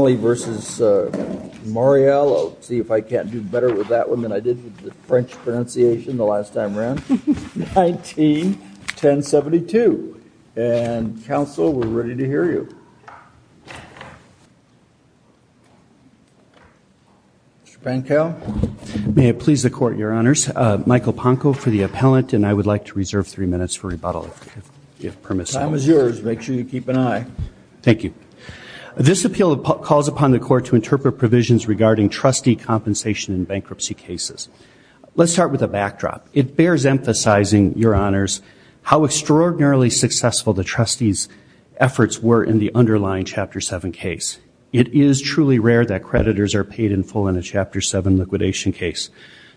I'll see if I can't do better with that one than I did with the French pronunciation the last time around. 19-1072. And, counsel, we're ready to hear you. Mr. Pankow? May it please the Court, Your Honors. Michael Ponko for the appellant, and I would like to reserve three minutes for rebuttal, if permissible. Time is yours. Make sure you keep an eye. Thank you. This appeal calls upon the Court to interpret provisions regarding trustee compensation in bankruptcy cases. Let's start with a backdrop. It bears emphasizing, Your Honors, how extraordinarily successful the trustees' efforts were in the underlying Chapter 7 case. It is truly rare that creditors are paid in full in a Chapter 7 liquidation case.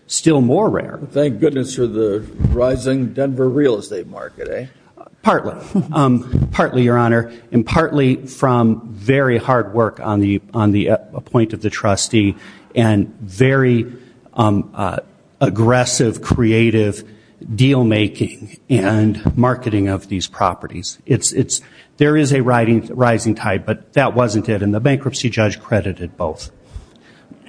Still more rare. Thank goodness for the rising Denver real estate market, eh? Partly. Partly, Your Honor. And partly from very hard work on the point of the trustee and very aggressive, creative deal-making and marketing of these properties. There is a rising tide, but that wasn't it, and the bankruptcy judge credited both.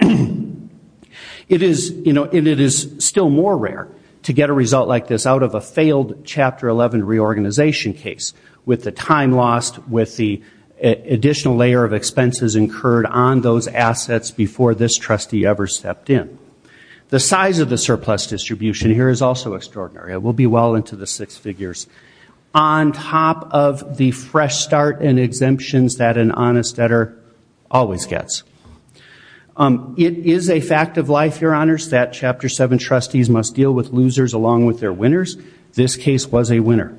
It is, you know, and it is still more rare to get a result like this out of a failed Chapter 11 reorganization case, with the time lost, with the additional layer of expenses incurred on those assets before this trustee ever stepped in. The size of the surplus distribution here is also extraordinary. It will be well into the six figures. On top of the fresh start and exemptions that an honest debtor always gets. It is a fact of life, Your Honors, that Chapter 7 trustees must deal with losers along with their winners. This case was a winner.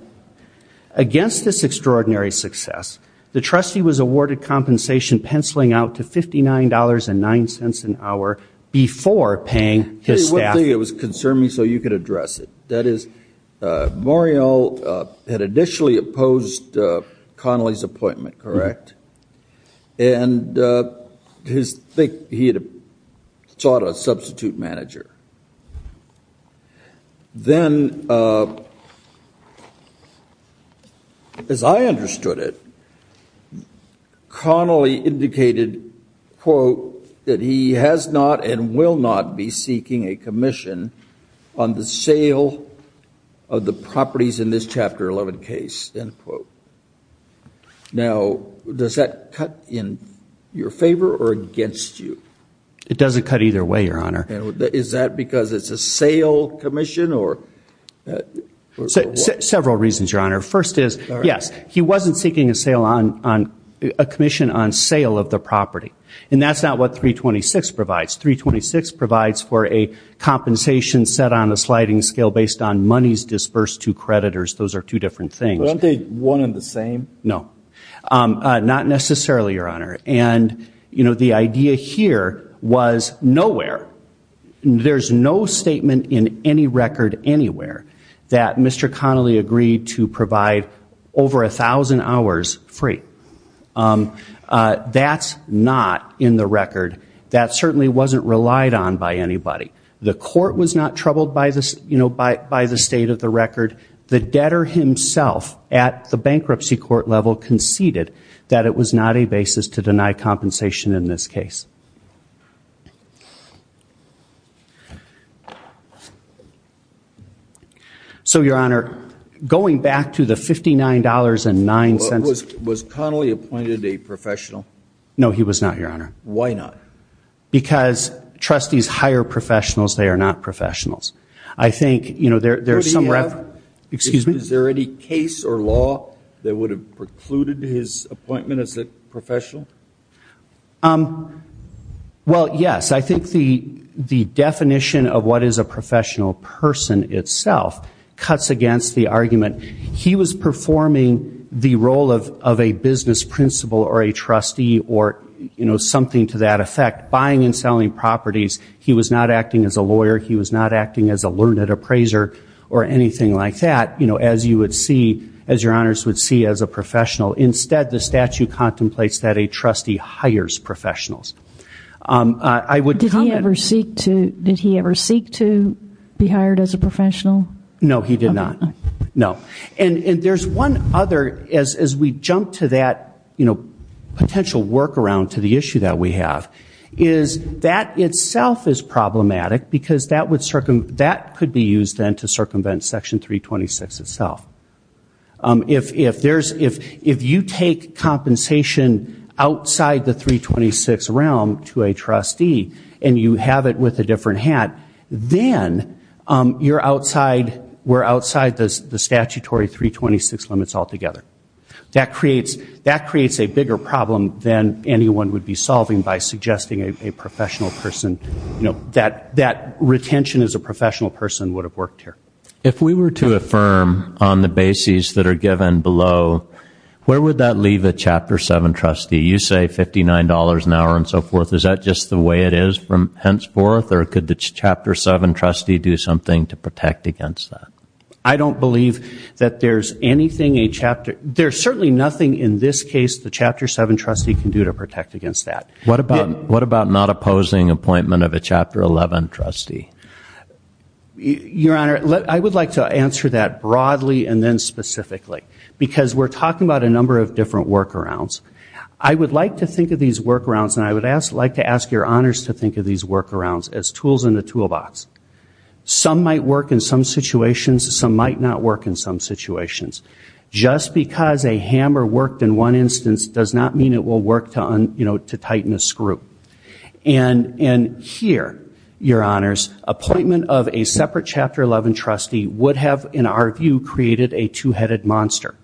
Against this extraordinary success, the trustee was awarded compensation penciling out to $59.09 an hour before paying his staff. Very quickly, it was concerning, so you could address it. That is, Morial had initially opposed Connolly's appointment, correct? And his, I think he had sought a substitute manager. Then, as I understood it, Connolly indicated, quote, that he has not and will not be seeking a commission on the sale of the properties in this Chapter 11 case, end quote. Now does that cut in your favor or against you? It doesn't cut either way, Your Honor. Is that because it's a sale commission or what? Several reasons, Your Honor. First is, yes, he wasn't seeking a commission on sale of the property. And that's not what 326 provides. 326 provides for a compensation set on a sliding scale based on monies disbursed to creditors. Those are two different things. Aren't they one and the same? No. Not necessarily, Your Honor. And the idea here was nowhere, there's no statement in any record anywhere that Mr. Connolly agreed to provide over 1,000 hours free. That's not in the record. That certainly wasn't relied on by anybody. The court was not troubled by the state of the record. The debtor himself at the bankruptcy court level conceded that it was not a basis to deny compensation in this case. So Your Honor, going back to the $59.09. Was Connolly appointed a professional? No, he was not, Your Honor. Why not? Because trustees hire professionals, they are not professionals. I think, you know, there's some reference. Excuse me? Is there any case or law that would have precluded his appointment as a professional? Well, yes. I think the definition of what is a professional person itself cuts against the argument. He was performing the role of a business principal or a trustee or, you know, something to that effect. Buying and selling properties, he was not acting as a lawyer. He was not acting as a learned appraiser or anything like that, you know, as you would see, as Your Honors would see as a professional. Instead, the statute contemplates that a trustee hires professionals. I would comment- Did he ever seek to be hired as a professional? No, he did not. No. And there's one other, as we jump to that, you know, potential workaround to the issue that we have is that itself is problematic because that could be used then to circumvent Section 326 itself. If you take compensation outside the 326 realm to a trustee and you have it with a different hat, then you're outside- we're outside the statutory 326 limits altogether. That creates a bigger problem than anyone would be solving by suggesting a professional person, you know, that retention as a professional person would have worked here. If we were to affirm on the bases that are given below, where would that leave a Chapter 7 trustee? You say $59 an hour and so forth. Is that just the way it is from henceforth or could the Chapter 7 trustee do something to protect against that? I don't believe that there's anything a Chapter- there's certainly nothing in this case the Chapter 7 trustee can do to protect against that. What about not opposing appointment of a Chapter 11 trustee? Your Honor, I would like to answer that broadly and then specifically because we're talking about a number of different workarounds. I would like to think of these workarounds and I would like to ask your honors to think of these workarounds as tools in the toolbox. Some might work in some situations, some might not work in some situations. Just because a hammer worked in one instance does not mean it will work to tighten a screw. And here, your honors, appointment of a separate Chapter 11 trustee would have, in our view, created a two-headed monster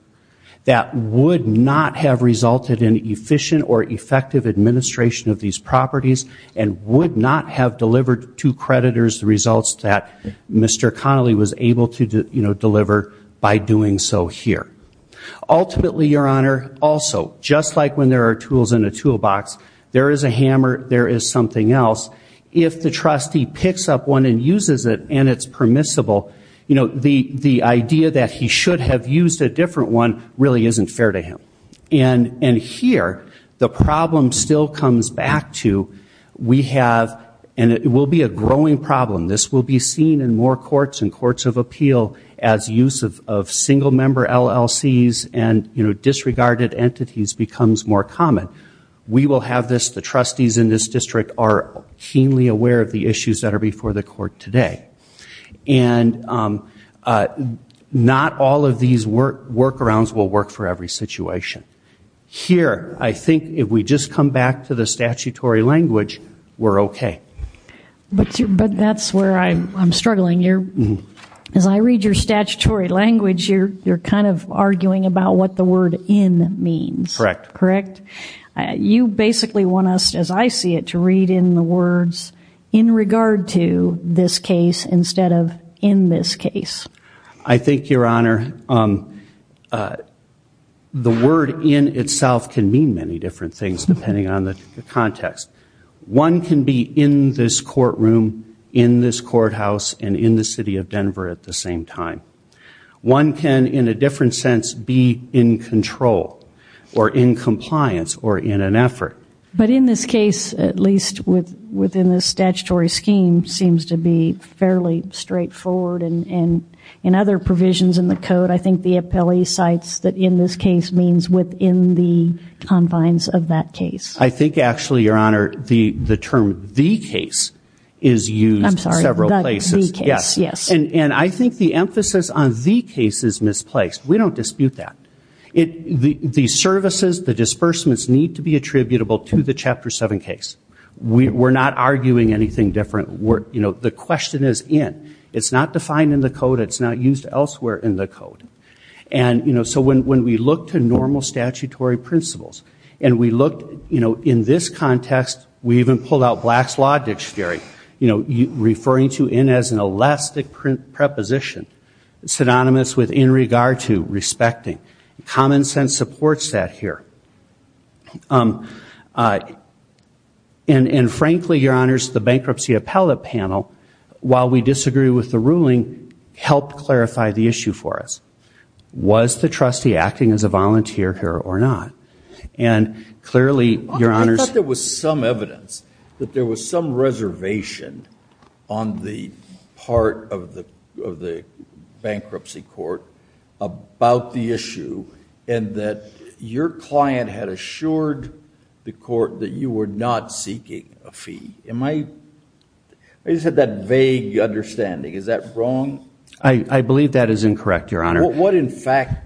that would not have resulted in efficient or effective administration of these properties and would not have delivered to creditors the results that Mr. Connolly was able to deliver by doing so here. Ultimately, your honor, also, just like when there are tools in a toolbox, there is a hammer, there is something else. If the trustee picks up one and uses it and it's permissible, the idea that he should have used a different one really isn't fair to him. And here, the problem still comes back to, we have, and it will be a growing problem, this will be seen in more courts and courts of appeal as use of single-member LLCs and disregarded entities becomes more common. We will have this, the trustees in this district are keenly aware of the issues that are before the court today. And not all of these workarounds will work for every situation. Here, I think if we just come back to the statutory language, we're okay. But that's where I'm struggling. As I read your statutory language, you're kind of arguing about what the word in means. Correct. Correct? You basically want us, as I see it, to read in the words in regard to this case instead of in this case. I think, your honor, the word in itself can mean many different things depending on the context. One can be in this courtroom, in this courthouse, and in the city of Denver at the same time. One can, in a different sense, be in control or in compliance or in an effort. But in this case, at least within the statutory scheme, seems to be fairly straightforward and in other provisions in the code, I think the appellee cites that in this case means within the confines of that case. I think actually, your honor, the term the case is used several places. And I think the emphasis on the case is misplaced. We don't dispute that. The services, the disbursements need to be attributable to the Chapter 7 case. We're not arguing anything different. The question is in. It's not defined in the code. It's not used elsewhere in the code. So when we look to normal statutory principles and we look in this context, we even pull out Black's Law Dictionary, you know, referring to in as an elastic preposition, synonymous with in regard to, respecting. Common sense supports that here. And frankly, your honors, the bankruptcy appellate panel, while we disagree with the ruling, helped clarify the issue for us. Was the trustee acting as a volunteer here or not? And clearly, your honors- That there was some reservation on the part of the bankruptcy court about the issue and that your client had assured the court that you were not seeking a fee. Am I- I just had that vague understanding. Is that wrong? I believe that is incorrect, your honor. What in fact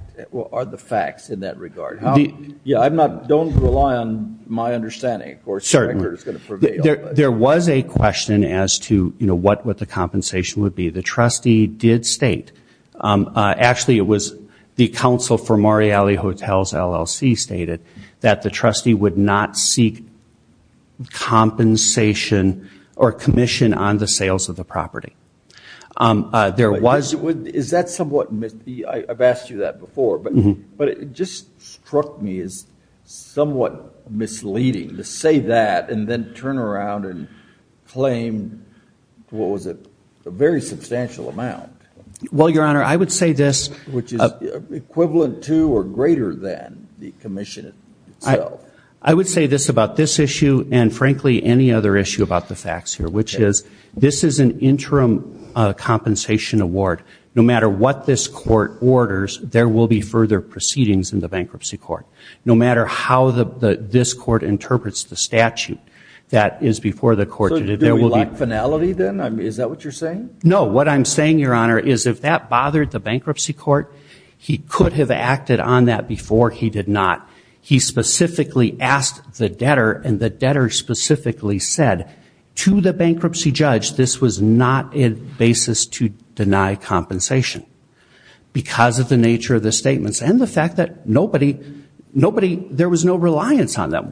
are the facts in that regard? How- Yeah, I'm not- Don't rely on my understanding. Of course- There was a question as to, you know, what the compensation would be. The trustee did state, actually it was the Council for Morreale Hotels, LLC, stated that the trustee would not seek compensation or commission on the sales of the property. There was- Is that somewhat, I've asked you that before, but it just struck me as somewhat misleading to say that and then turn around and claim, what was it, a very substantial amount. Well, your honor, I would say this- Which is equivalent to or greater than the commission itself. I would say this about this issue and frankly any other issue about the facts here, which is this is an interim compensation award. No matter what this court orders, there will be further proceedings in the bankruptcy court. No matter how this court interprets the statute that is before the court. So do we lack finality then? Is that what you're saying? No. What I'm saying, your honor, is if that bothered the bankruptcy court, he could have acted on that before he did not. He specifically asked the debtor and the debtor specifically said to the bankruptcy judge this was not a basis to deny compensation because of the nature of the statements and the fact that nobody, there was no reliance on them.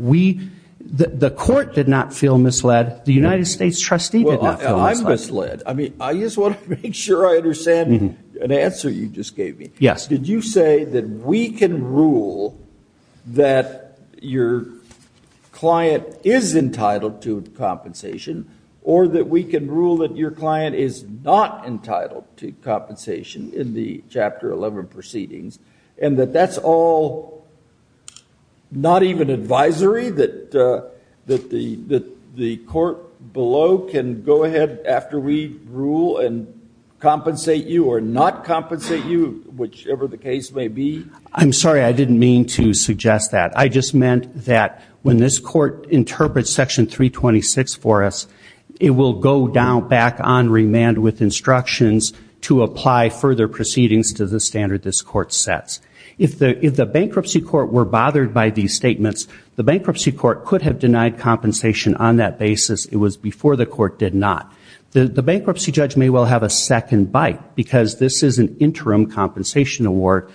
The court did not feel misled. The United States trustee did not feel misled. Well, I'm misled. I mean, I just want to make sure I understand an answer you just gave me. Yes. Did you say that we can rule that your client is entitled to compensation or that we can rule that your client is not entitled to compensation in the Chapter 11 proceedings and that that's all not even advisory, that the court below can go ahead after we rule and compensate you or not compensate you, whichever the case may be? I'm sorry. I didn't mean to suggest that. I just meant that when this court interprets Section 326 for us, it will go back on remand with instructions to apply further proceedings to the standard this court sets. If the bankruptcy court were bothered by these statements, the bankruptcy court could have denied compensation on that basis. It was before the court did not. The bankruptcy judge may well have a second bite because this is an interim compensation award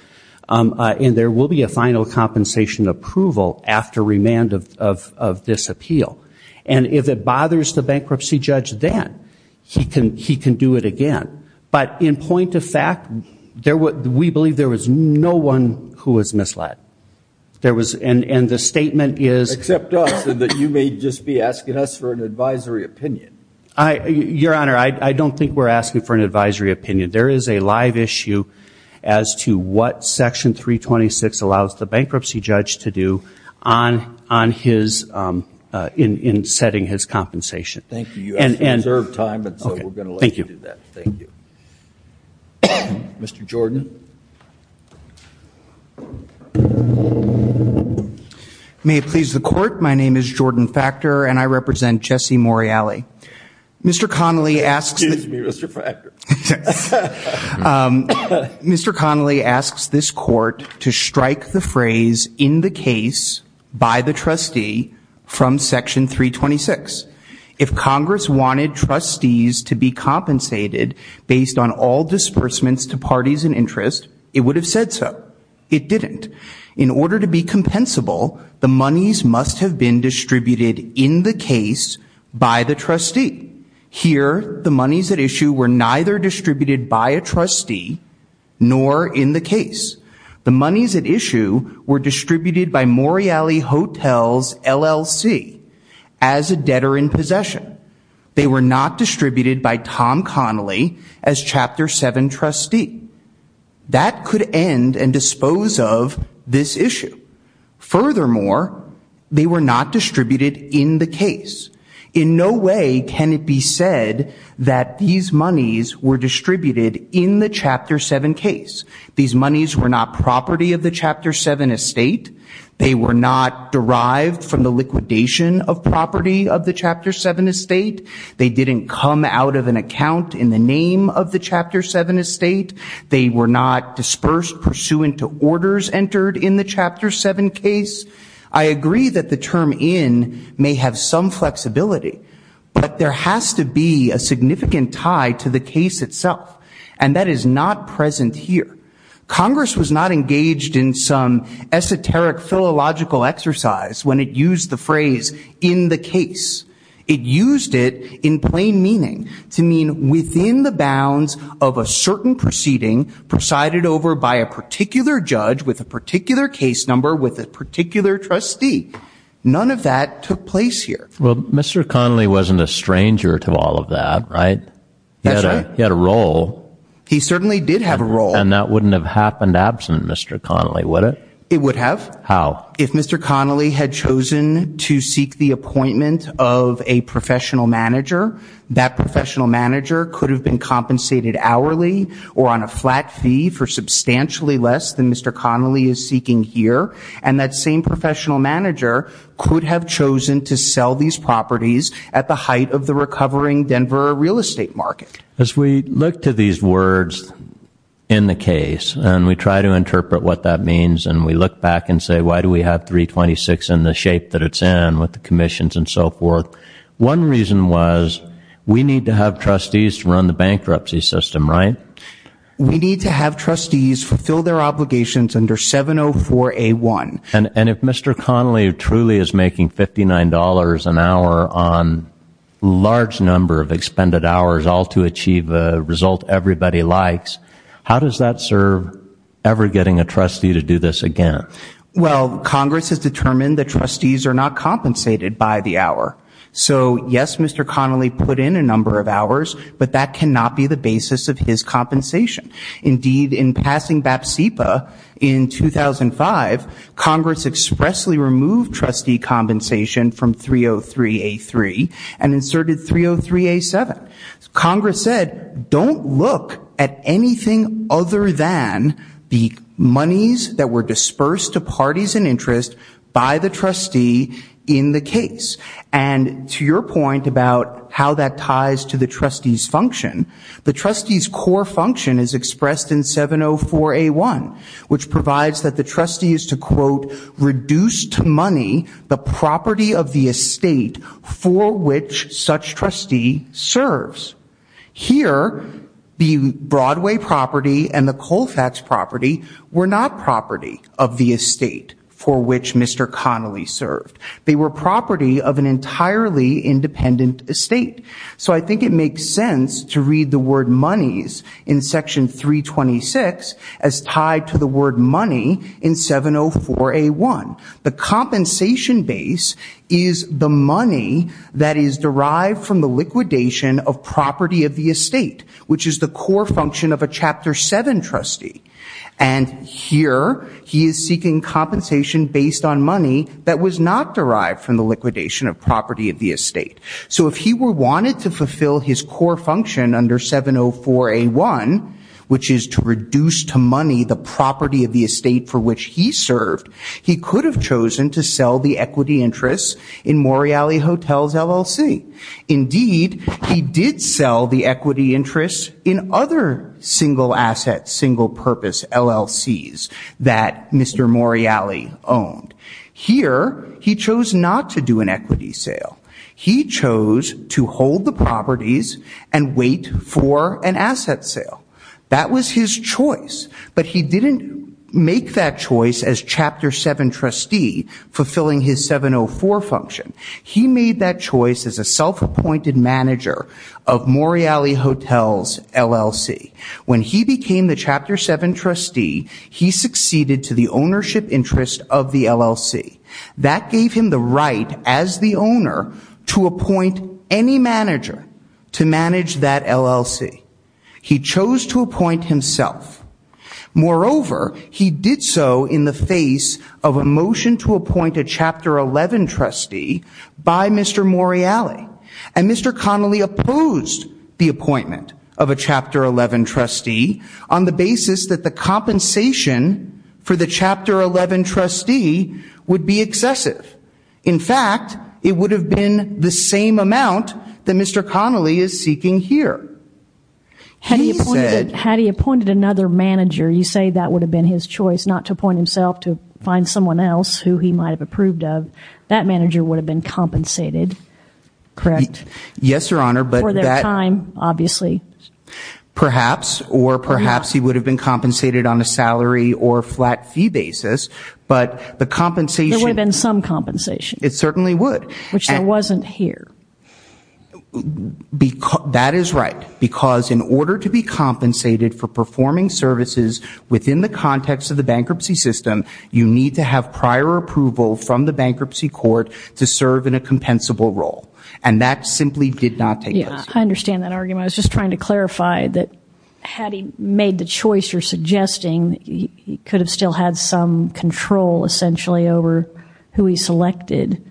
and there will be a final compensation approval after remand of this appeal. And if it bothers the bankruptcy judge then, he can do it again. But in point of fact, we believe there was no one who was misled. And the statement is- Except us and that you may just be asking us for an advisory opinion. Your Honor, I don't think we're asking for an advisory opinion. There is a live issue as to what Section 326 allows the bankruptcy judge to do in setting his compensation. Thank you. You have some reserved time. So we're going to let you do that. Thank you. Okay. Thank you. Mr. Jordan. May it please the court, my name is Jordan Factor and I represent Jesse Morreale. Mr. Connolly asks- Excuse me, Mr. Factor. Mr. Connolly asks this court to strike the phrase, in the case, by the trustee from Section 326. If Congress wanted trustees to be compensated based on all disbursements to parties in interest, it would have said so. It didn't. In order to be compensable, the monies must have been distributed in the case by the trustee. Here, the monies at issue were neither distributed by a trustee nor in the case. The monies at issue were distributed by Morreale Hotels LLC as a debtor in possession. They were not distributed by Tom Connolly as Chapter 7 trustee. That could end and dispose of this issue. Furthermore, they were not distributed in the case. In no way can it be said that these monies were distributed in the Chapter 7 case. These monies were not property of the Chapter 7 estate. They were not derived from the liquidation of property of the Chapter 7 estate. They didn't come out of an account in the name of the Chapter 7 estate. They were not dispersed pursuant to orders entered in the Chapter 7 case. I agree that the term in may have some flexibility, but there has to be a significant tie to the case itself, and that is not present here. Congress was not engaged in some esoteric philological exercise when it used the phrase in the case, it used it in plain meaning to mean within the bounds of a certain proceeding presided over by a particular judge with a particular case number with a particular trustee, none of that took place here. Well, Mr. Connolly wasn't a stranger to all of that, right? That's right. He had a role. He certainly did have a role. And that wouldn't have happened absent Mr. Connolly, would it? It would have. How? If Mr. Connolly had chosen to seek the appointment of a professional manager, that professional manager could have been compensated hourly or on a flat fee for substantially less than Mr. Connolly is seeking here. And that same professional manager could have chosen to sell these properties at the height of the recovering Denver real estate market. As we look to these words in the case, and we try to interpret what that means, and we look back and say, why do we have 326 in the shape that it's in, with the commissions and so forth? One reason was, we need to have trustees to run the bankruptcy system, right? We need to have trustees fulfill their obligations under 704A1. And if Mr. Connolly truly is making $59 an hour on a large number of expended hours, all to achieve a result everybody likes, how does that serve ever getting a trustee to do this again? Well, Congress has determined that trustees are not compensated by the hour. So yes, Mr. Connolly put in a number of hours, but that cannot be the basis of his compensation. Indeed, in passing BAPSIPA in 2005, Congress expressly removed trustee compensation from 303A3 and inserted 303A7. Congress said, don't look at anything other than the monies that were dispersed to parties in interest by the trustee in the case. And to your point about how that ties to the trustee's function, the trustee's core function is expressed in 704A1, which provides that the trustee is to, quote, reduce to money the property of the estate for which such trustee serves. Here, the Broadway property and the Colfax property were not property of the estate for which Mr. Connolly served. They were property of an entirely independent estate. So I think it makes sense to read the word monies in section 326 as tied to the word money in 704A1. The compensation base is the money that is derived from the liquidation of property of the estate, which is the core function of a chapter seven trustee. And here, he is seeking compensation based on money that was not derived from the liquidation of property of the estate. So if he were wanted to fulfill his core function under 704A1, which is to reduce to money the property of the estate for which he served, he could have chosen to sell the equity interests in Morreale Hotels LLC. Indeed, he did sell the equity interests in other single assets, single purpose LLCs that Mr. Morreale owned. Here, he chose not to do an equity sale. He chose to hold the properties and wait for an asset sale. That was his choice. But he didn't make that choice as chapter seven trustee fulfilling his 704 function. He made that choice as a self-appointed manager of Morreale Hotels LLC. When he became the chapter seven trustee, he succeeded to the ownership interest of the LLC. That gave him the right as the owner to appoint any manager to manage that LLC. He chose to appoint himself. Moreover, he did so in the face of a motion to appoint a chapter 11 trustee by Mr. Morreale. And Mr. Connelly opposed the appointment of a chapter 11 trustee on the basis that the compensation for the chapter 11 trustee would be excessive. In fact, it would have been the same amount that Mr. Connelly is seeking here. Had he appointed another manager, you say that would have been his choice, not to appoint himself to find someone else who he might have approved of. That manager would have been compensated, correct? Yes, your honor, but- For their time, obviously. Perhaps, or perhaps he would have been compensated on a salary or flat fee basis. But the compensation- There would have been some compensation. It certainly would. Which there wasn't here. That is right, because in order to be compensated for performing services within the context of the bankruptcy system, you need to have prior approval from the bankruptcy court to serve in a compensable role. And that simply did not take place. Yeah, I understand that argument. I was just trying to clarify that had he made the choice you're suggesting, he could have still had some control essentially over who he selected.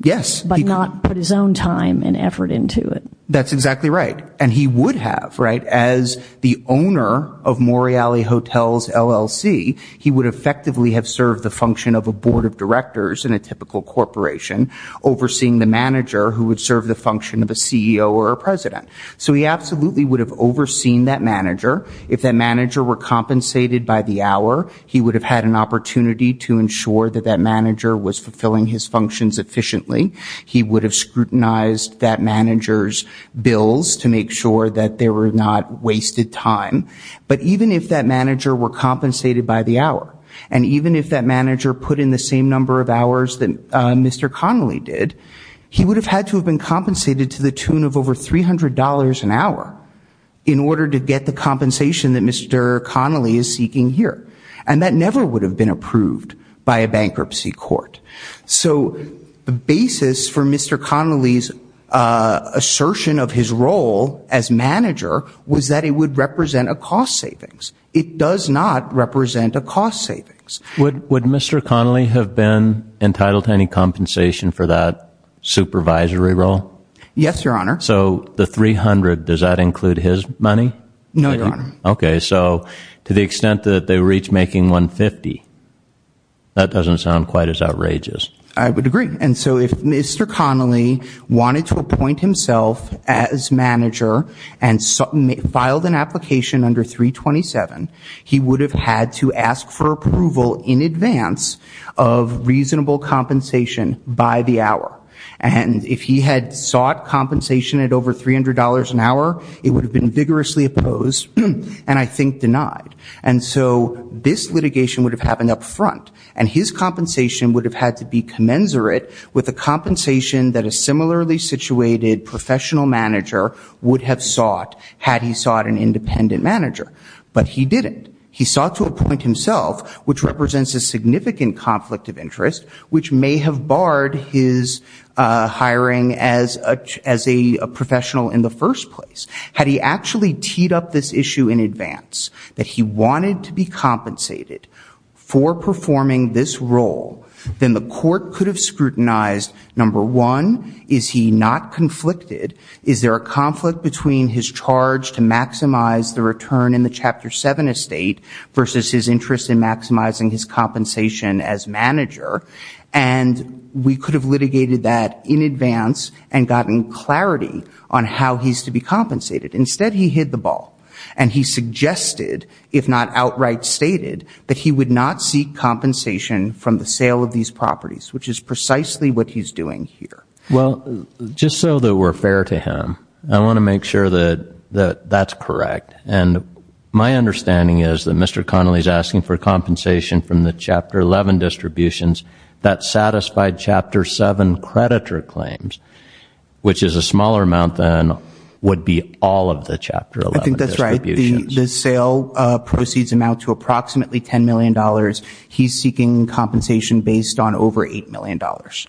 Yes. But not put his own time and effort into it. That's exactly right. And he would have, right, as the owner of Morreale Hotels, LLC, he would effectively have served the function of a board of directors in a typical corporation, overseeing the manager who would serve the function of a CEO or a president. So he absolutely would have overseen that manager. If that manager were compensated by the hour, he would have had an opportunity to ensure that that manager was compensated. Was fulfilling his functions efficiently. He would have scrutinized that manager's bills to make sure that they were not wasted time. But even if that manager were compensated by the hour, and even if that manager put in the same number of hours that Mr. Connolly did, he would have had to have been compensated to the tune of over $300 an hour. In order to get the compensation that Mr. Connolly is seeking here. And that never would have been approved by a bankruptcy court. So, the basis for Mr. Connolly's assertion of his role as manager was that it would represent a cost savings. It does not represent a cost savings. Would Mr. Connolly have been entitled to any compensation for that supervisory role? Yes, Your Honor. So, the $300, does that include his money? No, Your Honor. Okay, so to the extent that they were each making $150, that doesn't sound quite as outrageous. I would agree. And so if Mr. Connolly wanted to appoint himself as manager and filed an application under 327, he would have had to ask for approval in advance of reasonable compensation by the hour. And if he had sought compensation at over $300 an hour, it would have been vigorously opposed and I think denied. And so this litigation would have happened up front. And his compensation would have had to be commensurate with the compensation that a similarly situated professional manager would have sought had he sought an independent manager. But he didn't. He sought to appoint himself, which represents a significant conflict of interest, which may have barred his hiring as a professional in the first place. Had he actually teed up this issue in advance, that he wanted to be compensated for performing this role, then the court could have scrutinized, number one, is he not conflicted? Is there a conflict between his charge to maximize the return in the Chapter 7 estate versus his interest in maximizing his compensation as manager? And we could have litigated that in advance and gotten clarity on how he's to be compensated. Instead, he hid the ball. And he suggested, if not outright stated, that he would not seek compensation from the sale of these properties, which is precisely what he's doing here. Well, just so that we're fair to him, I want to make sure that that's correct. And my understanding is that Mr. Connolly is asking for compensation from the Chapter 11 distributions that satisfied Chapter 7 creditor claims, which is a smaller amount than would be all of the Chapter 11 distributions. I think that's right. The sale proceeds amount to approximately $10 million. He's seeking compensation based on over $8 million.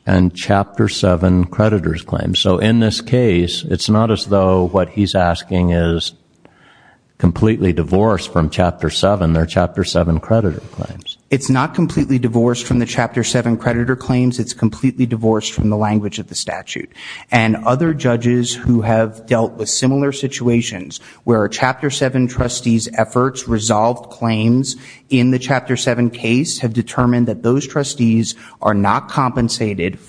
And Chapter 7 creditor's claims. So in this case, it's not as though what he's asking is completely divorced from Chapter 7, their Chapter 7 creditor claims. It's not completely divorced from the Chapter 7 creditor claims. It's completely divorced from the language of the statute. And other judges who have dealt with similar situations where a Chapter 7 trustee's efforts resolved claims in the Chapter 7 case have determined that those trustees are not creditors. This comes up in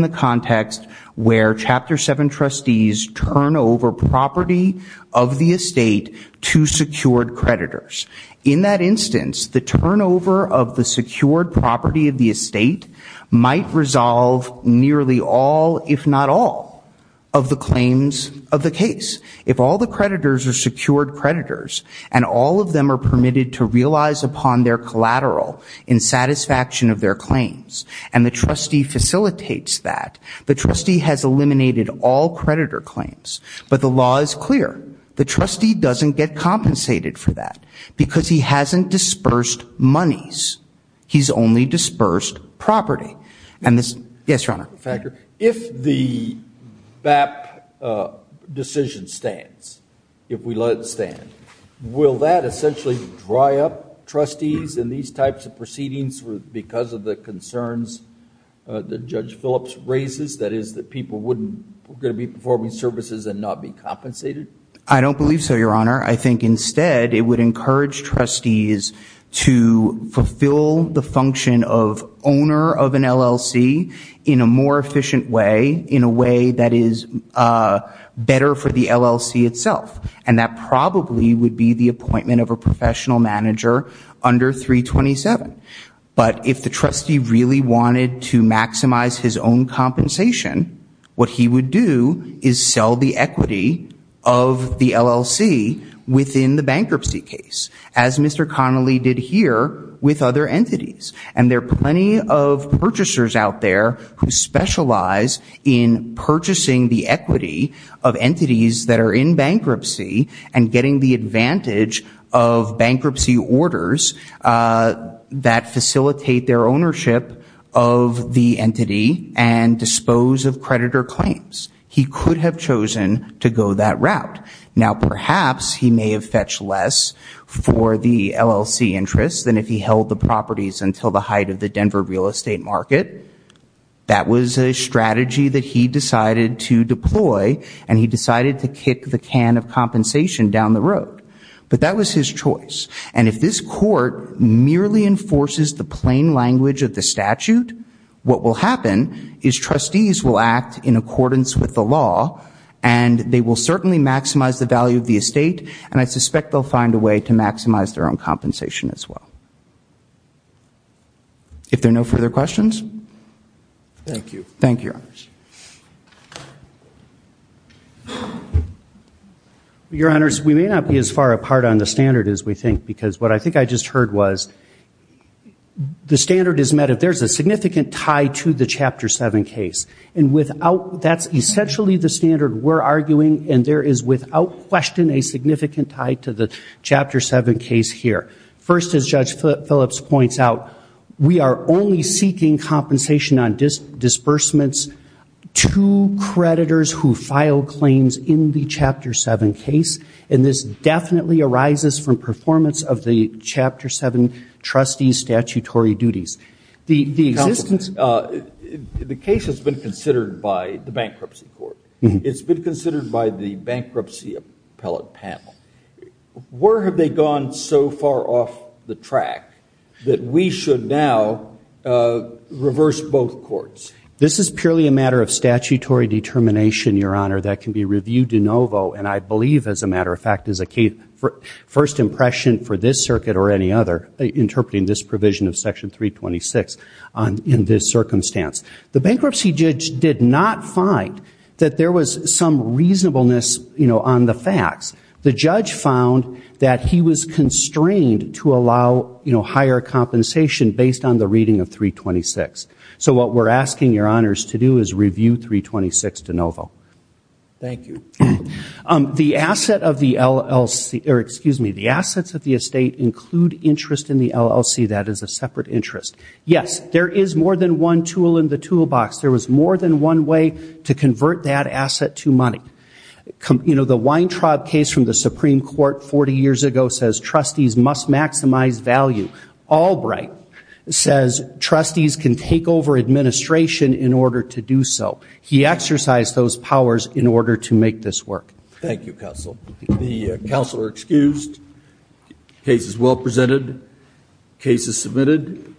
the context where Chapter 7 trustees turn over property of the estate to secured creditors. In that instance, the turnover of the secured property of the estate might resolve nearly all, if not all, of the claims of the case. If all the creditors are secured creditors, and all of them are permitted to realize upon their collateral in satisfaction of their claims, and the trustee facilitates that, the trustee has eliminated all creditor claims. But the law is clear. The trustee doesn't get compensated for that. Because he hasn't dispersed monies. He's only dispersed property. And this... Yes, Your Honor. Factor. If the BAP decision stands, if we let it stand, will that essentially dry up trustees in these types of proceedings because of the concerns that Judge Phillips raises? That is, that people wouldn't... We're going to be performing services and not be compensated? I don't believe so, Your Honor. I think instead, it would encourage trustees to fulfill the function of owner of an LLC in a more efficient way, in a way that is better for the LLC itself. And that probably would be the appointment of a professional manager under 327. But if the trustee really wanted to maximize his own compensation, what he would do is sell the equity of the LLC within the bankruptcy case, as Mr. Connolly did here with other entities. And there are plenty of purchasers out there who specialize in purchasing the equity of entities that are in bankruptcy and getting the advantage of bankruptcy orders that facilitate their ownership of the entity and dispose of creditor claims. He could have chosen to go that route. Now, perhaps he may have fetched less for the LLC interest than if he held the properties until the height of the Denver real estate market. That was a strategy that he decided to deploy. And he decided to kick the can of compensation down the road. But that was his choice. And if this court merely enforces the plain language of the statute, what will happen is trustees will act in accordance with the law. And they will certainly maximize the value of the estate. And I suspect they'll find a way to maximize their own compensation as well. If there are no further questions? Thank you. Thank you, Your Honors. Your Honors, we may not be as far apart on the standard as we think. Because what I think I just heard was, the standard is met if there's a significant tie to the Chapter 7 case. And that's essentially the standard we're arguing. And there is without question a significant tie to the Chapter 7 case here. First, as Judge Phillips points out, we are only seeking compensation on disbursements to creditors who file claims in the Chapter 7 case. And this definitely arises from performance of the Chapter 7 trustee's statutory duties. The case has been considered by the bankruptcy court. It's been considered by the bankruptcy appellate panel. Where have they gone so far off the track that we should now reverse both courts? This is purely a matter of statutory determination, Your Honor. That can be reviewed de novo. And I believe, as a matter of fact, is a first impression for this circuit or any other interpreting this provision of Section 326 in this circumstance. The bankruptcy judge did not find that there was some reasonableness on the facts. The judge found that he was constrained to allow, you know, higher compensation based on the reading of 326. So what we're asking Your Honors to do is review 326 de novo. Thank you. The asset of the LLC, or excuse me, the assets of the estate include interest in the LLC. That is a separate interest. Yes, there is more than one tool in the toolbox. There was more than one way to convert that asset to money. You know, the Weintraub case from the Supreme Court 40 years ago says trustees must maximize value. Albright says trustees can take over administration in order to do so. He exercised those powers in order to make this work. Thank you, Counsel. The counsel are excused. Case is well presented. Case is submitted.